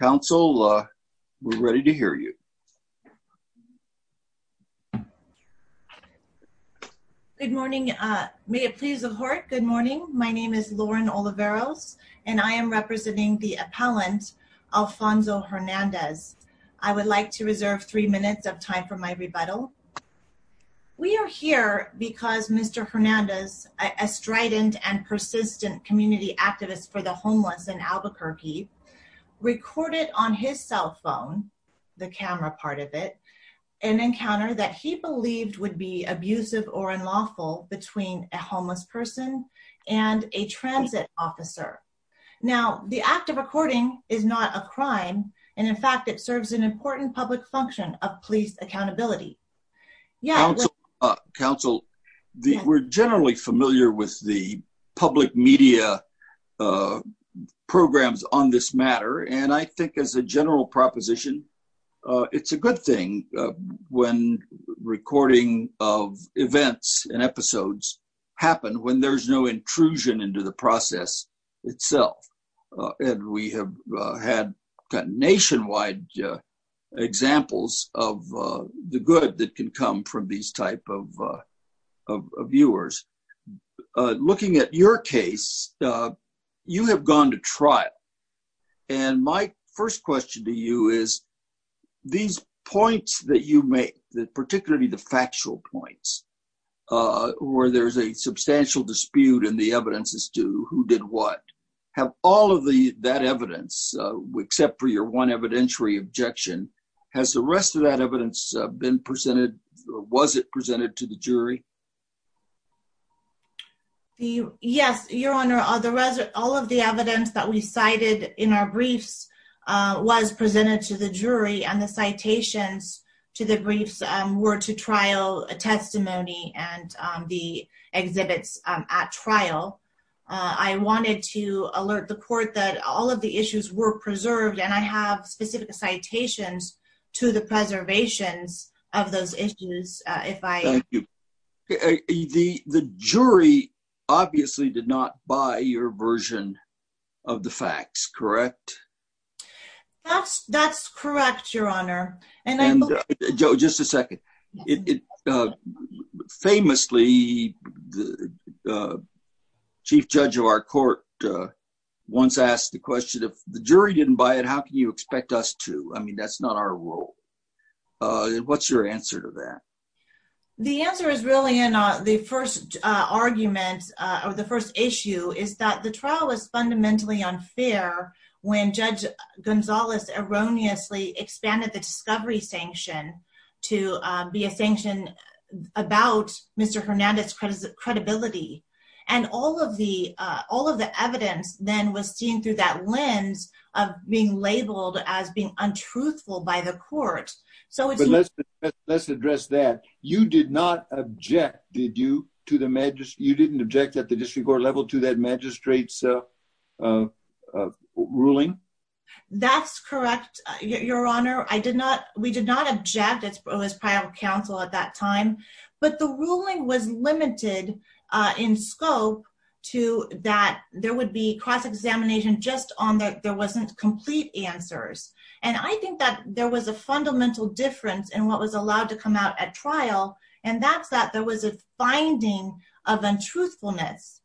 Council we're ready to hear you. Good morning. May it please the court. Good morning. My name is Lauren Oliveros and I am representing the appellant Alfonso Hernandez. I would like to reserve three minutes of time for my rebuttal. We are here because Mr. Hernandez, a strident and persistent community activist for the homeless in Albuquerque, recorded on his cell phone, the camera part of it, an encounter that he believed would be abusive or unlawful between a homeless person and a transit officer. Now the act of recording is not a crime and in fact it serves an important public function of police accountability. Council, we're generally familiar with the public media programs on this matter and I think as a general proposition it's a good thing when recording of events and episodes happen when there's no intrusion into the process itself. And we have had nationwide examples of the good that can come from these type of viewers. Looking at your case, you have gone to trial and my first question to you is these points that you make, particularly the factual points where there's a substantial dispute in the evidence as to who did what, have all of that evidence, except for your one evidentiary objection, has the rest of that evidence been presented or was it presented to the jury? Yes, your honor, all of the evidence that we cited in our briefs was presented to the jury and the citations to the briefs were to trial testimony and the exhibits at trial. I wanted to alert the court that all of the issues were preserved and I have specific citations to the preservations of those issues. The jury obviously did not buy your version of the facts, correct? That's correct, your honor. And Joe, just a second. Famously, the chief judge of our court once asked the question, if the jury didn't buy it, how can you expect us to? I mean, that's not our role. What's your answer to that? The answer is really in the first argument, or the first issue, is that the trial was fundamentally unfair when Judge Gonzales erroneously expanded the discovery sanction to be a through that lens of being labeled as being untruthful by the court. So let's address that. You did not object, did you, to the magistrate? You didn't object at the district court level to that magistrate's ruling? That's correct, your honor. I did not. We did not object. It was private counsel at that time, but the ruling was limited in scope to that there would be cross-examination just on that there wasn't complete answers. And I think that there was a fundamental difference in what was allowed to come out at trial, and that's that there was a finding of untruthfulness.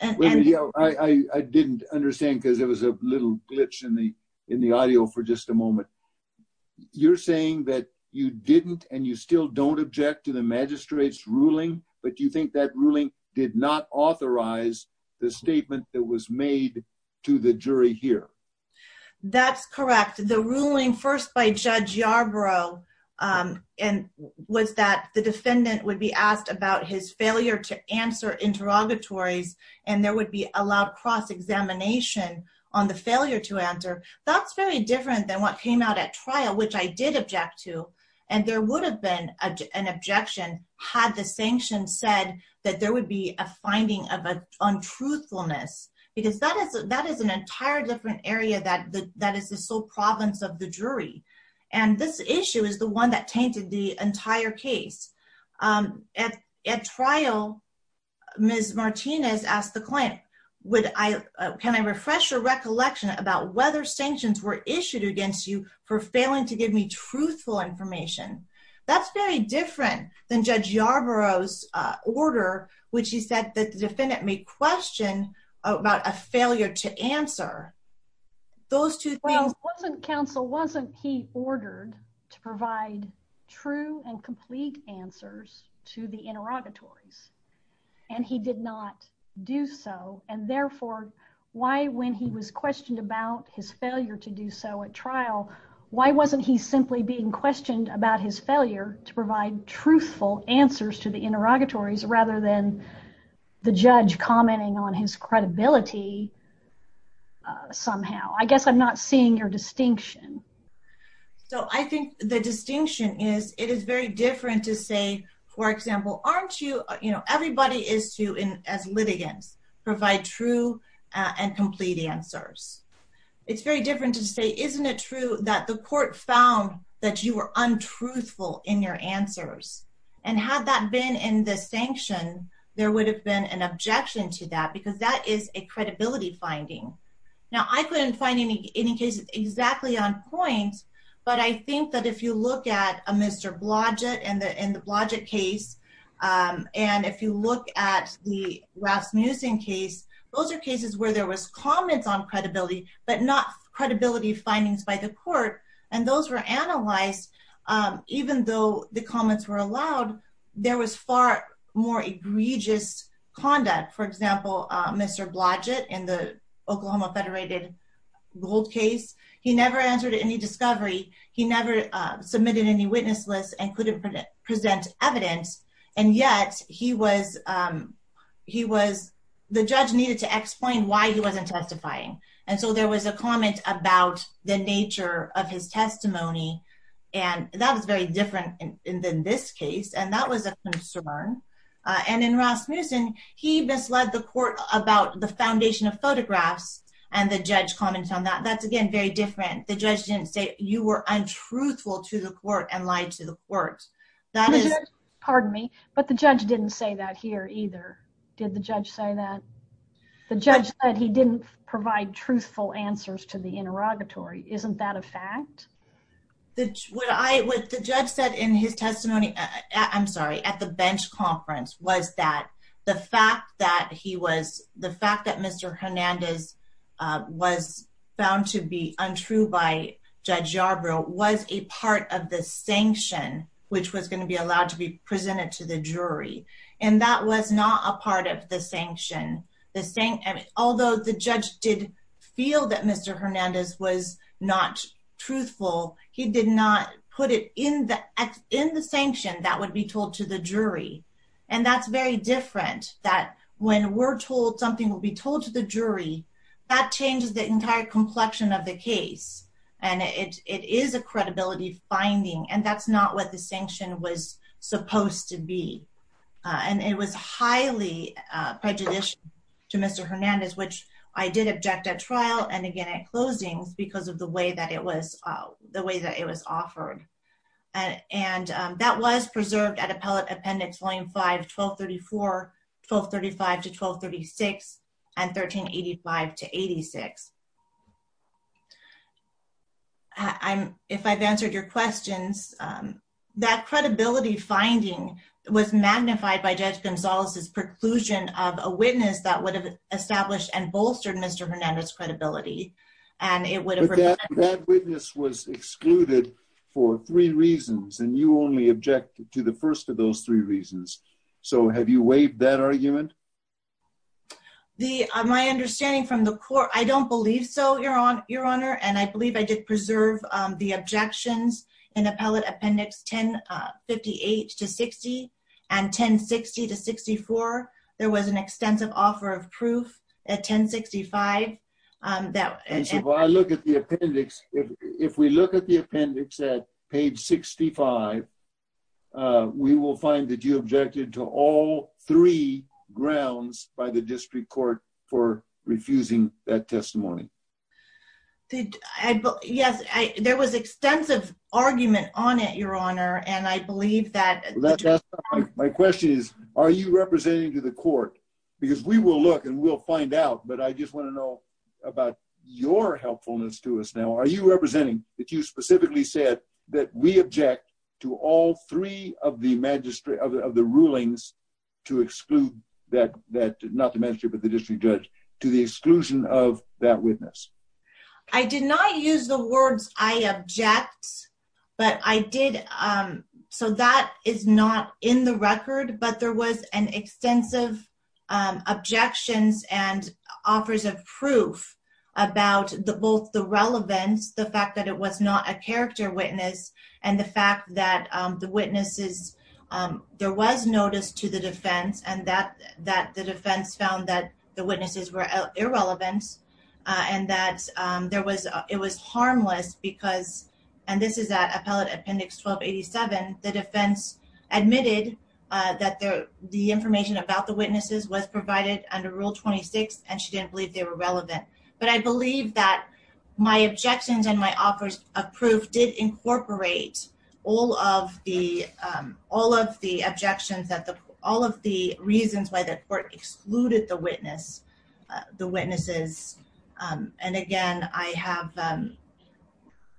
I didn't understand because it was a little glitch in the in the audio for just a moment. You're saying that you did not object to the magistrate's ruling, but do you think that ruling did not authorize the statement that was made to the jury here? That's correct. The ruling first by Judge Yarbrough was that the defendant would be asked about his failure to answer interrogatories, and there would be allowed cross-examination on the failure to answer. That's very different than what came out at trial, which I did object to, and there would have been an objection had the sanction said that there would be a finding of untruthfulness because that is that is an entire different area that that is the sole province of the jury. And this issue is the one that tainted the entire case. At trial, Ms. Martinez asked the client, can I refresh your recollection about whether sanctions were issued against you for failing to give me truthful information? That's very different than Judge Yarbrough's order, which he said that the defendant may question about a failure to answer. Well, wasn't counsel, wasn't he ordered to provide true and complete answers to the interrogatories? And he did not do so, and therefore, why when he was questioned about his failure to do so at trial, why wasn't he simply being questioned about his failure to provide truthful answers to the interrogatories rather than the judge commenting on his credibility somehow? I guess I'm not seeing your distinction. So I think the distinction is it is very different to say, for example, aren't you, you know, everybody is to, as litigants, provide true and complete answers. It's very different to say, isn't it true that the court found that you were untruthful in your answers? And had that been in the sanction, there would have been an objection to that because that is a credibility finding. Now, I couldn't find any any cases exactly on point, but I think that if you look at a Mr. Blodgett in the Blodgett case, and if you look at the Rasmussen case, those are cases where there was comments on credibility, but not credibility findings by the court. And those were analyzed. Even though the comments were allowed, there was far more egregious conduct. For example, Mr. Blodgett in the Oklahoma Federated Gold case, he never answered any discovery. He never submitted any witness list and couldn't present evidence. And yet he was, he was, the judge needed to explain why he wasn't testifying. And so there was a comment about the nature of his testimony. And that was very different in this case. And that was a concern. And in Rasmussen, he misled the court about the foundation of photographs, and the judge comments on that. That's, again, very different. The judge didn't say you were untruthful to the court and lied to the court. That is, pardon me, but the judge didn't say that here either. Did the judge say that? The judge said he didn't provide truthful answers to the interrogatory. Isn't that a fact? That what I what the judge said in his testimony, I'm sorry, at the bench conference was that the fact that he was the fact that Mr. Hernandez was found to be untrue by Judge Yarbrough was a part of the sanction, which was going to be allowed to be presented to the jury. And that was not a part of the sanction, the same. Although the judge did feel that Mr. Hernandez was not truthful, he did not put it in the in the sanction that would be told to the jury. And that's very different that when we're told something will be told to the jury, that it's a case and it is a credibility finding. And that's not what the sanction was supposed to be. And it was highly prejudiced to Mr. Hernandez, which I did object at trial and again at closings because of the way that it was the way that it was offered. And that was preserved at Appellate Appendix Volume 5, 1234, 1235 to 1236 and 1385 to 86. I'm if I've answered your questions, um, that credibility finding was magnified by Judge Gonzalez's preclusion of a witness that would have established and bolstered Mr. Hernandez credibility. And it would have that witness was excluded for three reasons, and you only object to the first of those three reasons. So have you waived that argument? The my understanding from the court. I don't believe so. You're on your honor, and I believe I did preserve the objections in Appellate Appendix 10 58 to 60 and 10 60 to 64. There was an extensive offer of proof at 10 65. Um, that if I look at the appendix, if we look at the appendix at page 65, uh, we will find that you objected to all three grounds by the district court for refusing that testimony. Did I? Yes, there was extensive argument on it, Your Honor. And I believe that my question is, are you representing to the court? Because we will look and we'll find out. But I just want to know about your helpfulness to us. Now, are you representing that you specifically said that we object to all three of the magistrate of the rulings to exclude that that not the ministry, but the district judge to the exclusion of that witness? I did not use the words I object, but I did. Um, so that is not in the record. But there was an extensive objections and offers of proof about the both the relevance, the fact that it was not a character witness and the fact that the witnesses, um, there was noticed to the defense and that that the defense found that the witnesses were irrelevant on that there was. It was harmless because and this is that appellate appendix 12 87. The defense admitted that the information about the witnesses was provided under Rule 26, and she didn't believe they were relevant. But I believe that my objections and my offers of proof did incorporate all of the all of the objections that all of the reasons why the court excluded the witness the witnesses. And again, I have, um,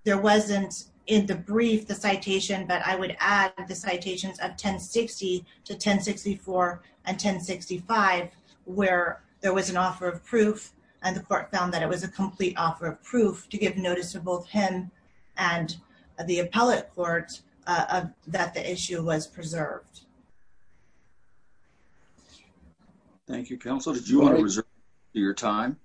there wasn't in the brief the citation, but I would add the citations of 10 60 to 10 64 and 10 65, where there was an offer of proof, and the court found that it was a complete offer of proof to give notice of both him and the appellate court that the issue was preserved. Thank you, Counselor. Do you want to reserve your time?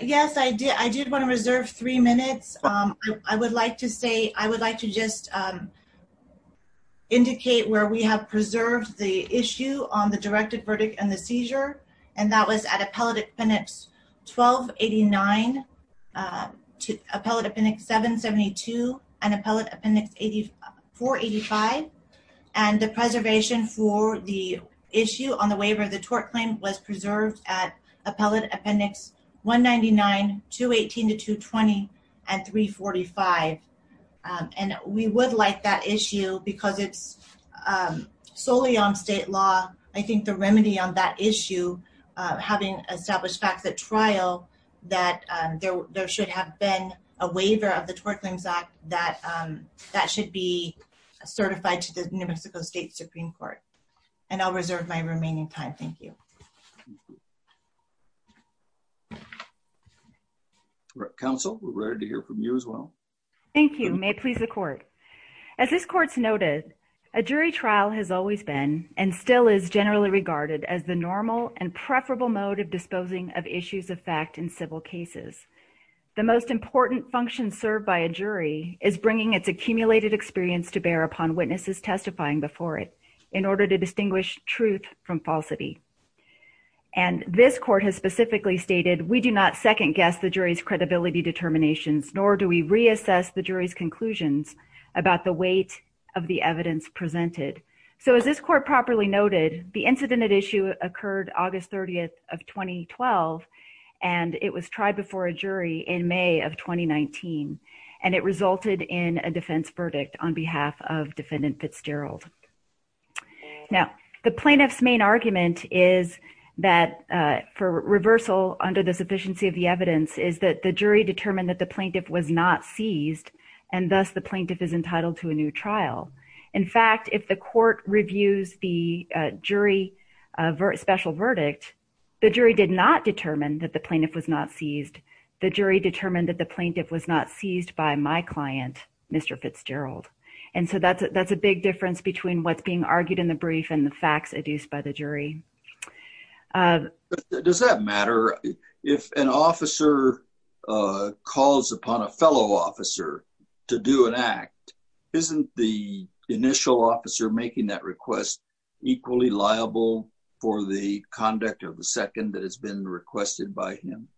Yes, I did. I did want to reserve three minutes. I would like to say I would like to just, um, indicate where we have preserved the issue on the directed verdict and the seizure. And that was at a pelleted penance 12 89, uh, appellate appendix 7 72 and appellate appendix 84 85. And the preservation for the issue on the waiver of the tort claim was preserved at appellate appendix 1 99 to 18 to 2 23 45. Um, and we would like that issue because it's, um, solely on state law. I think the remedy on that issue, uh, having established facts at trial that there should have been a waiver of the twerk claims act that, um, that should be certified to the New Mexico State Supreme Court. And I'll reserve my remaining time. Thank you. Mhm. Right. Council were ready to hear from you as well. Thank you. May it please the court. As this court's noted, a jury trial has always been and still is generally regarded as the normal and preferable mode of disposing of issues of fact in civil cases. The most important function served by a jury is bringing its accumulated experience to bear upon witnesses testifying before it in order to distinguish truth from falsity. And this court has specifically stated. We do not second guess the jury's credibility determinations, nor do we reassess the jury's conclusions about the weight of the evidence presented. So as this court properly noted, the incident issue occurred August 30th of 2012, and it was tried before a jury in May of 2019, and it resulted in a defense verdict on behalf of defendant Fitzgerald. Now, the plaintiff's main argument is that for reversal under the sufficiency of the evidence is that the jury determined that the plaintiff was not seized, and thus the plaintiff is entitled to a new trial. In fact, if the court reviews the jury, a very special verdict, the jury did not determine that the plaintiff was not seized. The jury determined that the plaintiff was not seized by my client, Mr Fitzgerald. And so that's that's a big difference between what's being argued in the brief and the facts adduced by the jury. Uh, does that matter if an officer calls upon a fellow officer to do an act? Isn't the initial officer making that request equally liable for the conduct of the second that has been requested by him?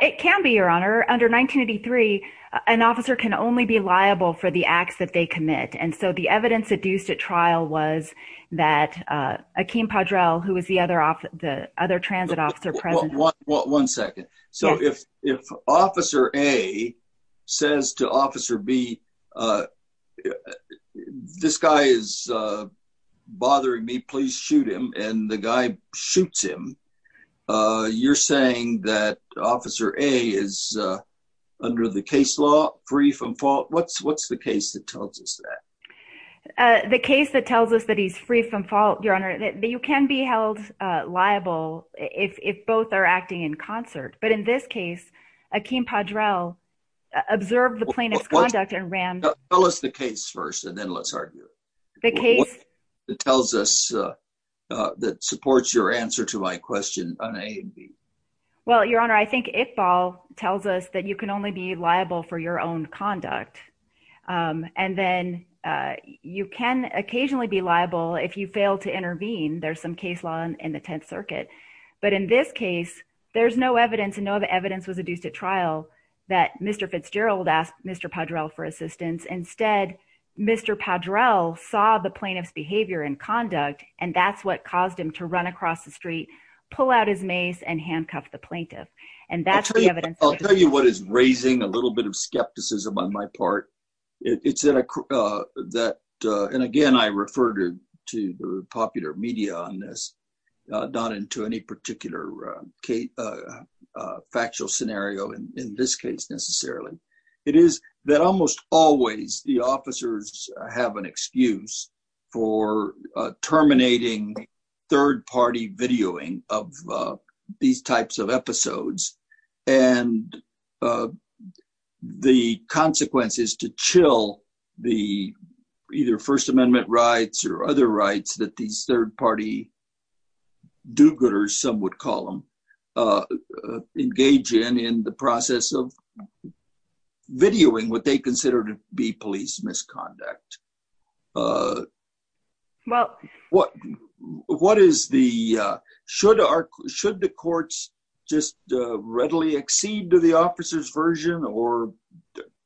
It can be your honor. Under 1983, an officer can only be liable for the acts that they commit. And so the evidence adduced at trial was that, uh, Akeem Padrel, who is the other off the other transit officer, 1 1 1 2nd. So if if Officer A says to Officer B, uh, this guy is, uh, bothering me, please shoot him. And the guy shoots him. Uh, you're saying that Officer A is, uh, under the case law free from fault. What's what's the case that tells us that the case that tells us that he's free from fault your honor that you can be held liable if both are acting in concert. But in this case, Akeem Padrel observed the plaintiff's conduct and ran. Tell us the case first, and then let's argue the case that tells us, uh, that supports your answer to my question on a B. Well, your honor, I think if ball tells us that you can only be liable for your own conduct, um, and then, uh, you can occasionally be liable if you fail to intervene. There's some case law in the 10th Circuit. But in this case, there's no evidence and no evidence was adduced at trial that Mr Fitzgerald asked Mr Padrel for assistance. Instead, Mr Padrel saw the plaintiff's behavior and conduct, and that's what caused him to run across the street, pull out his mace and handcuff the plaintiff. And that's I'll tell you what is raising a little bit of skepticism on my part. It's that, uh, that and again, I refer to to the popular media on this, not into any particular, uh, factual scenario in this case, necessarily. It is that almost always the officers have an excuse for terminating third party videoing of these types of episodes. And, uh, the consequences to chill the either First Amendment rights or other rights that these third party do gooders, some would call him, uh, engage in in the process of videoing what they consider to be police misconduct. Uh, well, what? What is the should our should the courts just readily exceed to the officer's version or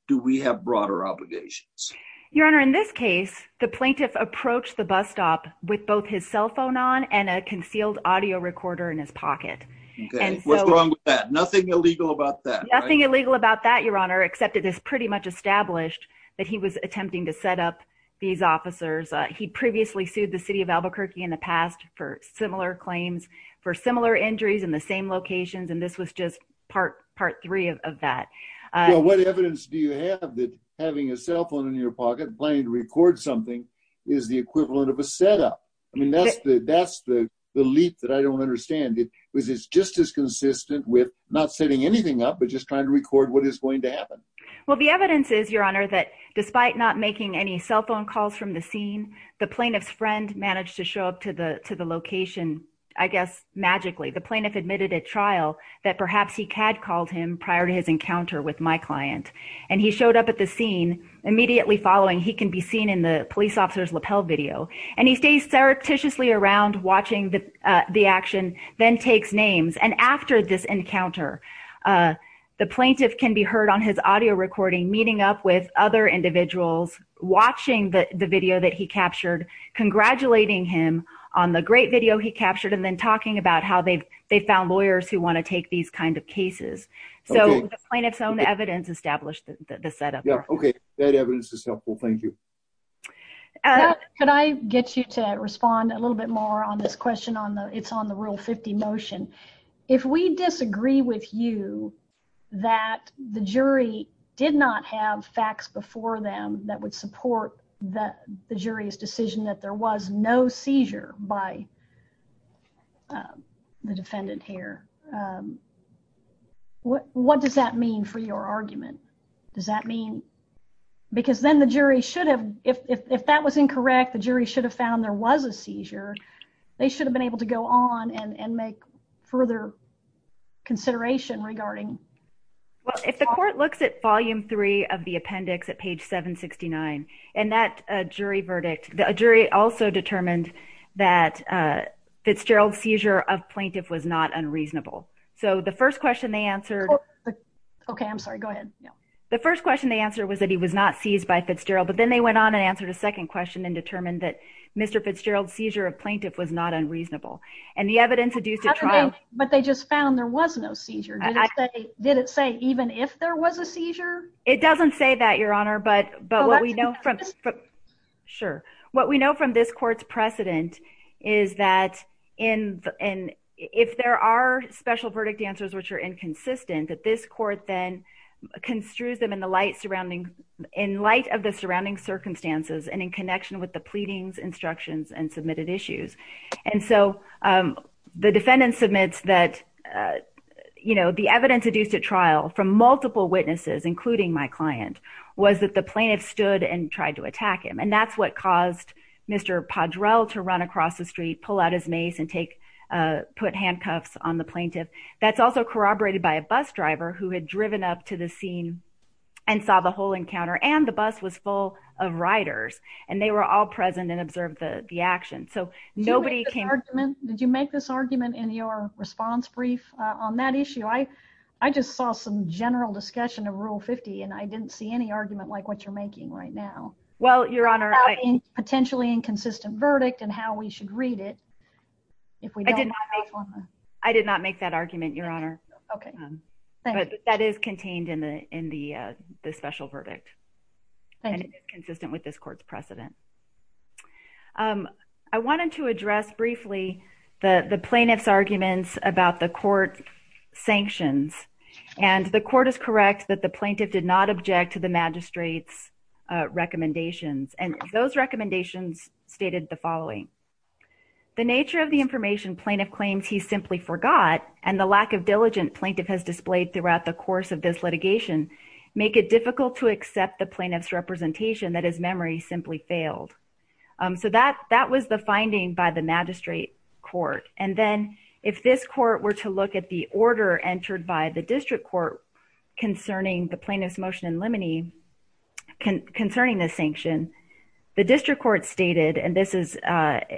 do we have broader obligations? Your Honor. In this case, the plaintiff approached the bus stop with both his cell phone on and a concealed audio recorder in his pocket. What's wrong with that? Nothing illegal about that. Nothing illegal about that, Your Honor, except it is pretty much established that he was attempting to set up these officers. He previously sued the city of Albuquerque in the past for similar claims for similar injuries in the same locations, and this was just part part three of that. What evidence do you have that having a cell phone in your pocket playing to record something is the equivalent of a setup? I mean, that's the that's the leap that I don't understand. It was. It's just as consistent with not setting anything up, but just trying to record what is going to happen. Well, the evidence is, Your Honor, that despite not making any cell phone calls from the scene, the plaintiff managed to show up to the to the location. I guess magically, the plaintiff admitted at trial that perhaps he had called him prior to his encounter with my client, and he showed up at the scene immediately following. He can be seen in the police officer's lapel video, and he stays surreptitiously around watching the action, then takes names. And after this encounter, the plaintiff can be heard on his audio recording meeting up with other individuals, watching the video that he captured, congratulating him on the great video he captured, and then talking about how they've they found lawyers who want to take these kind of cases. So the plaintiff's own evidence established the setup. Okay, that evidence is helpful. Thank you. Could I get you to respond a little bit more on this question on the, it's on the 50 motion. If we disagree with you that the jury did not have facts before them that would support the jury's decision that there was no seizure by the defendant here, what does that mean for your argument? Does that mean, because then the jury should have, if that was incorrect, the jury should have found there was a seizure, they should have been able to go on and make further consideration regarding? Well, if the court looks at volume 3 of the appendix at page 769, and that jury verdict, the jury also determined that Fitzgerald's seizure of plaintiff was not unreasonable. So the first question they answered. Okay, I'm sorry, go ahead. The first question they answered was that he was not seized by Fitzgerald, but then they went on and answered a second question and determined that Mr. Fitzgerald's seizure of plaintiff was not unreasonable, and the evidence adduced at trial. But they just found there was no seizure. Did it say even if there was a seizure? It doesn't say that, Your Honor, but what we know from this court's precedent is that if there are special verdict answers which are inconsistent, that this court then construes them in the light surrounding, in light of the surrounding circumstances and in connection with the pleadings, instructions, and submitted issues. And so the defendant submits that, you know, the evidence adduced at trial from multiple witnesses, including my client, was that the plaintiff stood and tried to attack him. And that's what caused Mr. Padrell to run across the street, pull out his mace, and put handcuffs on the plaintiff. That's also corroborated by a bus driver who had driven up to the encounter, and the bus was full of riders, and they were all present and observed the action. So nobody came... Did you make this argument in your response brief on that issue? I just saw some general discussion of Rule 50, and I didn't see any argument like what you're making right now. Well, Your Honor... About a potentially inconsistent verdict and how we should read it. I did not make that argument, Your Honor. Okay. That is contained in the special verdict, and it is consistent with this court's precedent. I wanted to address briefly the the plaintiff's arguments about the court sanctions. And the court is correct that the plaintiff did not object to the magistrate's recommendations, and those recommendations stated the following. The nature of the information plaintiff claims he simply forgot, and the lack of diligent plaintiff has displayed throughout the course of this litigation, make it difficult to accept the plaintiff's representation that his memory simply failed. So that was the finding by the magistrate court. And then, if this court were to look at the order entered by the district court concerning the plaintiff's motion in limine, concerning this sanction, the district court stated, and this is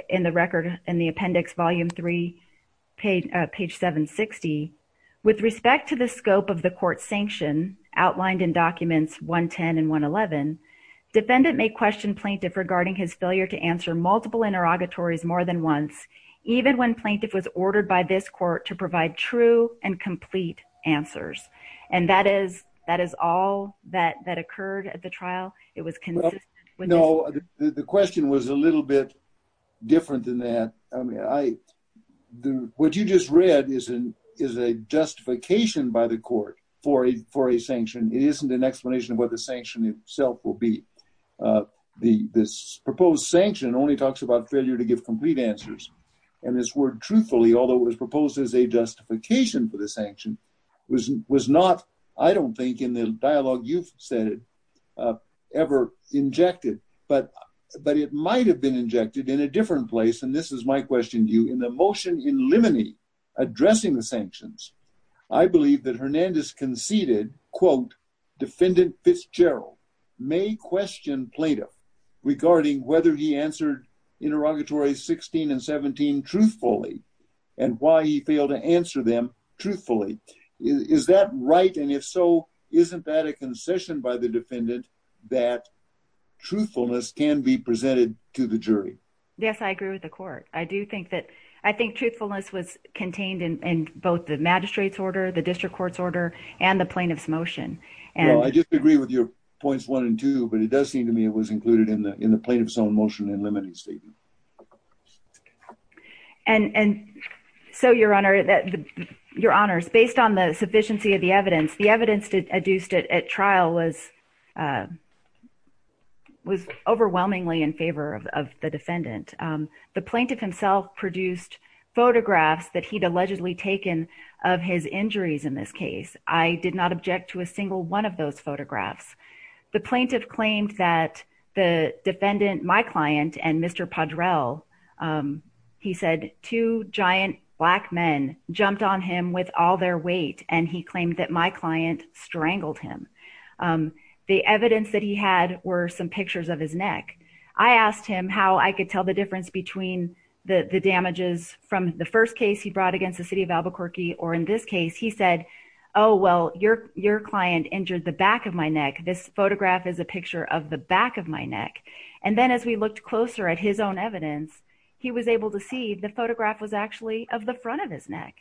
in the record in the appendix, volume 3, page 760, with respect to the scope of the court's sanction outlined in documents 110 and 111, defendant may question plaintiff regarding his failure to answer multiple interrogatories more than once, even when plaintiff was ordered by this court to provide true and complete answers. And that is, that is all that that occurred at the trial. It was consistent. No, the question was a what you just read is a justification by the court for a sanction. It isn't an explanation of what the sanction itself will be. This proposed sanction only talks about failure to give complete answers, and this word truthfully, although it was proposed as a justification for the sanction, was not, I don't think in the dialogue you've said it, ever injected. But it might have been injected in a different place, and this is my question to you. In the motion in limine, addressing the sanctions, I believe that Hernandez conceded, quote, defendant Fitzgerald may question plaintiff regarding whether he answered interrogatory 16 and 17 truthfully, and why he failed to answer them truthfully. Is that right, and if so, isn't that a concession by the defendant that truthfulness can be presented to the I think truthfulness was contained in both the magistrate's order, the district court's order, and the plaintiff's motion. I just agree with your points one and two, but it does seem to me it was included in the plaintiff's own motion in limine's statement. And so, your honor, that your honors, based on the sufficiency of the evidence, the evidence adduced at trial was overwhelmingly in favor of the defendant. The plaintiff himself produced photographs that he'd allegedly taken of his injuries in this case. I did not object to a single one of those photographs. The plaintiff claimed that the defendant, my client, and Mr. Padrel, he said, two giant black men jumped on him with all their weight, and he claimed that my client strangled him. The evidence that he had were some pictures of his neck. I asked him how I could tell the difference between the damages from the first case he brought against the city of Albuquerque, or in this case, he said, oh, well, your client injured the back of my neck. This photograph is a picture of the back of my neck. And then as we looked closer at his own evidence, he was able to see the photograph was actually of the front of his neck.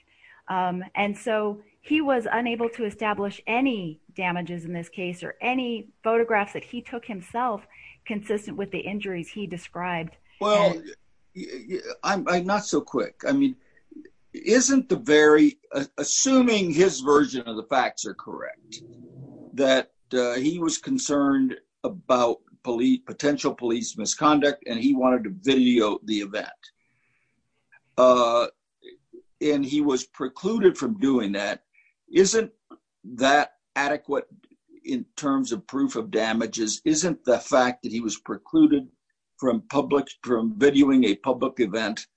And so, he was unable to tell the difference between the damages in this case or any photographs that he took himself consistent with the injuries he described. Well, I'm not so quick. I mean, isn't the very, assuming his version of the facts are correct, that he was concerned about police, potential police misconduct, and he wanted to video the event. And he was precluded from doing that. Isn't that adequate in terms of proof of damages? Isn't the fact that he was precluded from public, from videoing a public event,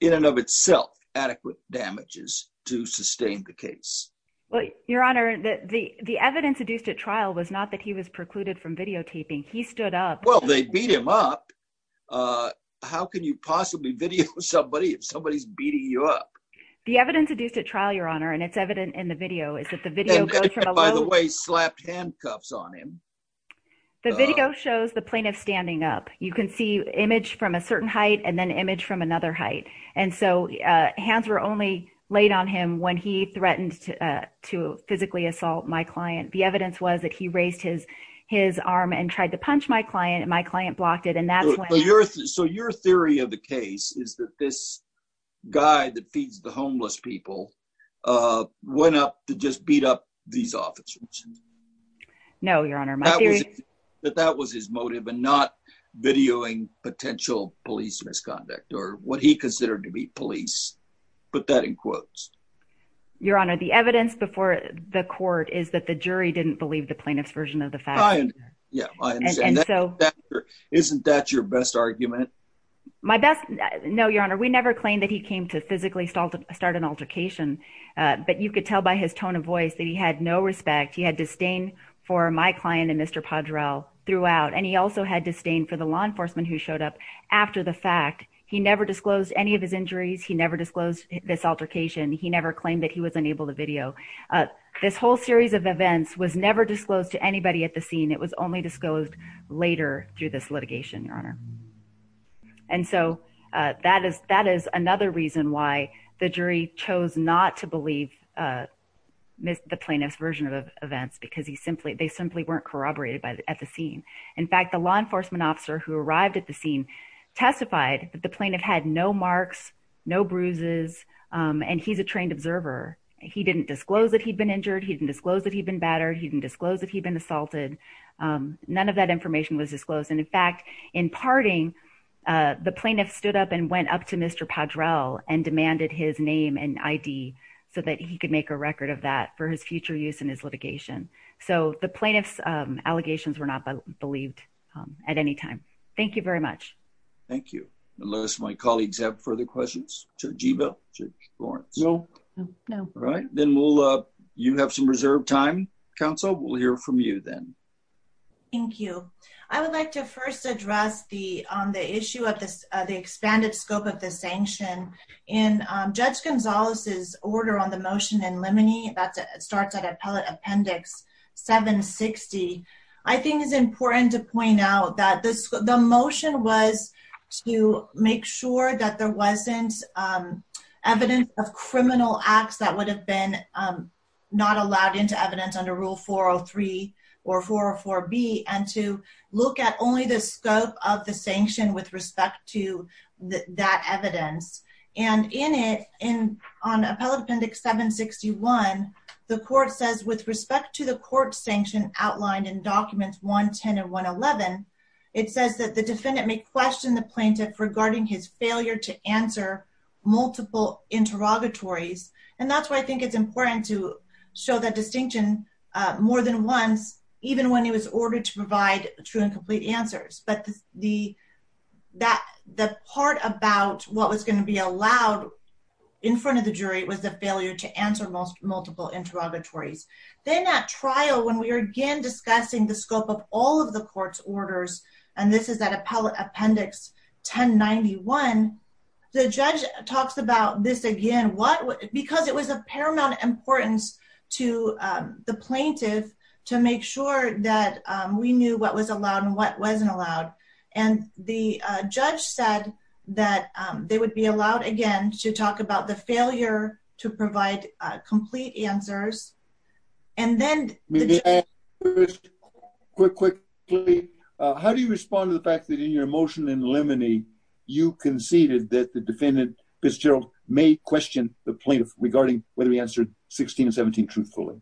in and of itself, adequate damages to sustain the case? Well, Your Honor, the evidence adduced at trial was not that he was precluded from videotaping. He stood up. Well, they beat him up. How can you possibly video somebody if somebody's beating you up? The evidence adduced at trial, Your Honor, and it's evident in the video, is that the video by the way slapped handcuffs on him. The video shows the plaintiff standing up. You can see image from a certain height and then image from another height. And so, hands were only laid on him when he threatened to physically assault my client. The evidence was that he raised his arm and tried to punch my client, and my client blocked it. And that's when... So, your theory of the case is that this guy that feeds the homeless people went up to just beat up these officers? No, Your Honor. That that was his motive and not videoing potential police misconduct, or what he considered to be police. Put that in quotes. Your Honor, the evidence before the court is that the jury didn't believe the plaintiff's version of the fact. Yeah. Isn't that your best argument? My best... No, Your Honor. We never claimed that he came to physically start an altercation, but you could tell by his tone of voice that he had no respect. He had disdain for my client and Mr. Padrel throughout, and he also had disdain for the law enforcement who showed up after the fact. He never disclosed any of his injuries. He never disclosed this altercation. He never claimed that he was unable to video. This whole series of events was never disclosed to anybody at the scene. It was only disclosed later through this litigation, Your Honor. And so that is another reason why the jury chose not to believe the plaintiff's version of events, because they simply weren't corroborated at the scene. In fact, the law enforcement officer who arrived at the scene testified that the plaintiff had no marks, no bruises, and he's a trained observer. He didn't disclose that he'd been injured. He didn't disclose that he'd been battered. He didn't disclose that he'd been assaulted. None of that information was stood up and went up to Mr Padrel and demanded his name and I. D. So that he could make a record of that for his future use in his litigation. So the plaintiff's allegations were not believed at any time. Thank you very much. Thank you. Unless my colleagues have further questions to Jeeva Lawrence. No, no. All right, then we'll you have some reserved time. Council will hear from you then. Thank you. I would like to first address the on the issue of the expanded scope of the sanction in Judge Gonzalez's order on the motion and lemony that starts at Appellate Appendix 7 60. I think it's important to point out that the motion was to make sure that there wasn't evidence of criminal acts that would have been not allowed into evidence under Rule 403 or 404 B and to look at only the scope of the sanction with respect to that evidence. And in it, in on Appellate Appendix 7 61, the court says, with respect to the court sanction outlined in documents 1 10 and 1 11, it says that the defendant may question the plaintiff regarding his failure to answer multiple interrogatories. And that's why I think it's important to show that distinction more than once, even when he was ordered to provide true and complete answers. But the that the part about what was gonna be allowed in front of the jury was the failure to answer most multiple interrogatories. Then at trial, when we are again discussing the scope of all of the court's orders, and this is that Appellate Appendix 10 91. The judge talks about this again. What? Because it was a paramount importance to the plaintiff to make sure that we knew what was allowed and what wasn't allowed. And the judge said that they would be allowed again to talk about the failure to provide complete answers. And then quick, quick. How do you respond to the fact that in your motion in limine, you conceded that the defendant Fitzgerald may question the plaintiff regarding whether he answered 16 17 truthfully.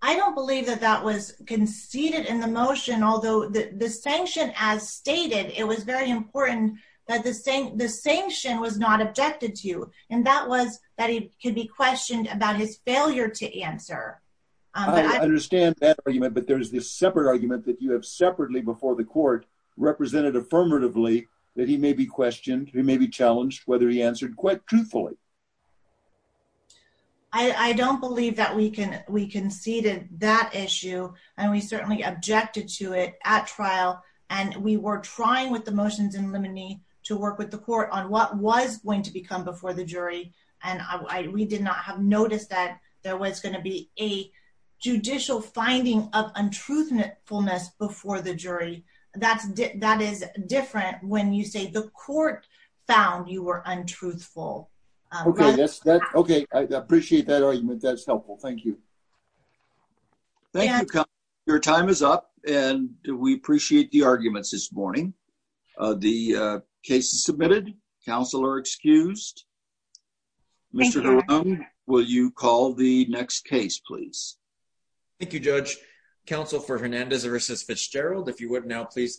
I don't believe that that was conceded in the motion, although the sanction as stated, it was very important that the same the sanction was not objected to. And that was that he could be questioned about his failure to answer. I understand that argument. But there is this separate argument that you have affirmatively that he may be questioned. He may be challenged whether he answered quite truthfully. I don't believe that we can. We conceded that issue, and we certainly objected to it at trial. And we were trying with the motions in limiting to work with the court on what was going to become before the jury. And we did not have noticed that there was gonna be a judicial finding of untruthfulness before the different when you say the court found you were untruthful. Okay, I appreciate that argument. That's helpful. Thank you. Thank you. Your time is up, and we appreciate the arguments this morning. The case is submitted. Counselor excused. Mr. Will you call the next case, please? Thank you, Judge Council for Hernandez versus Fitzgerald. If you would now, please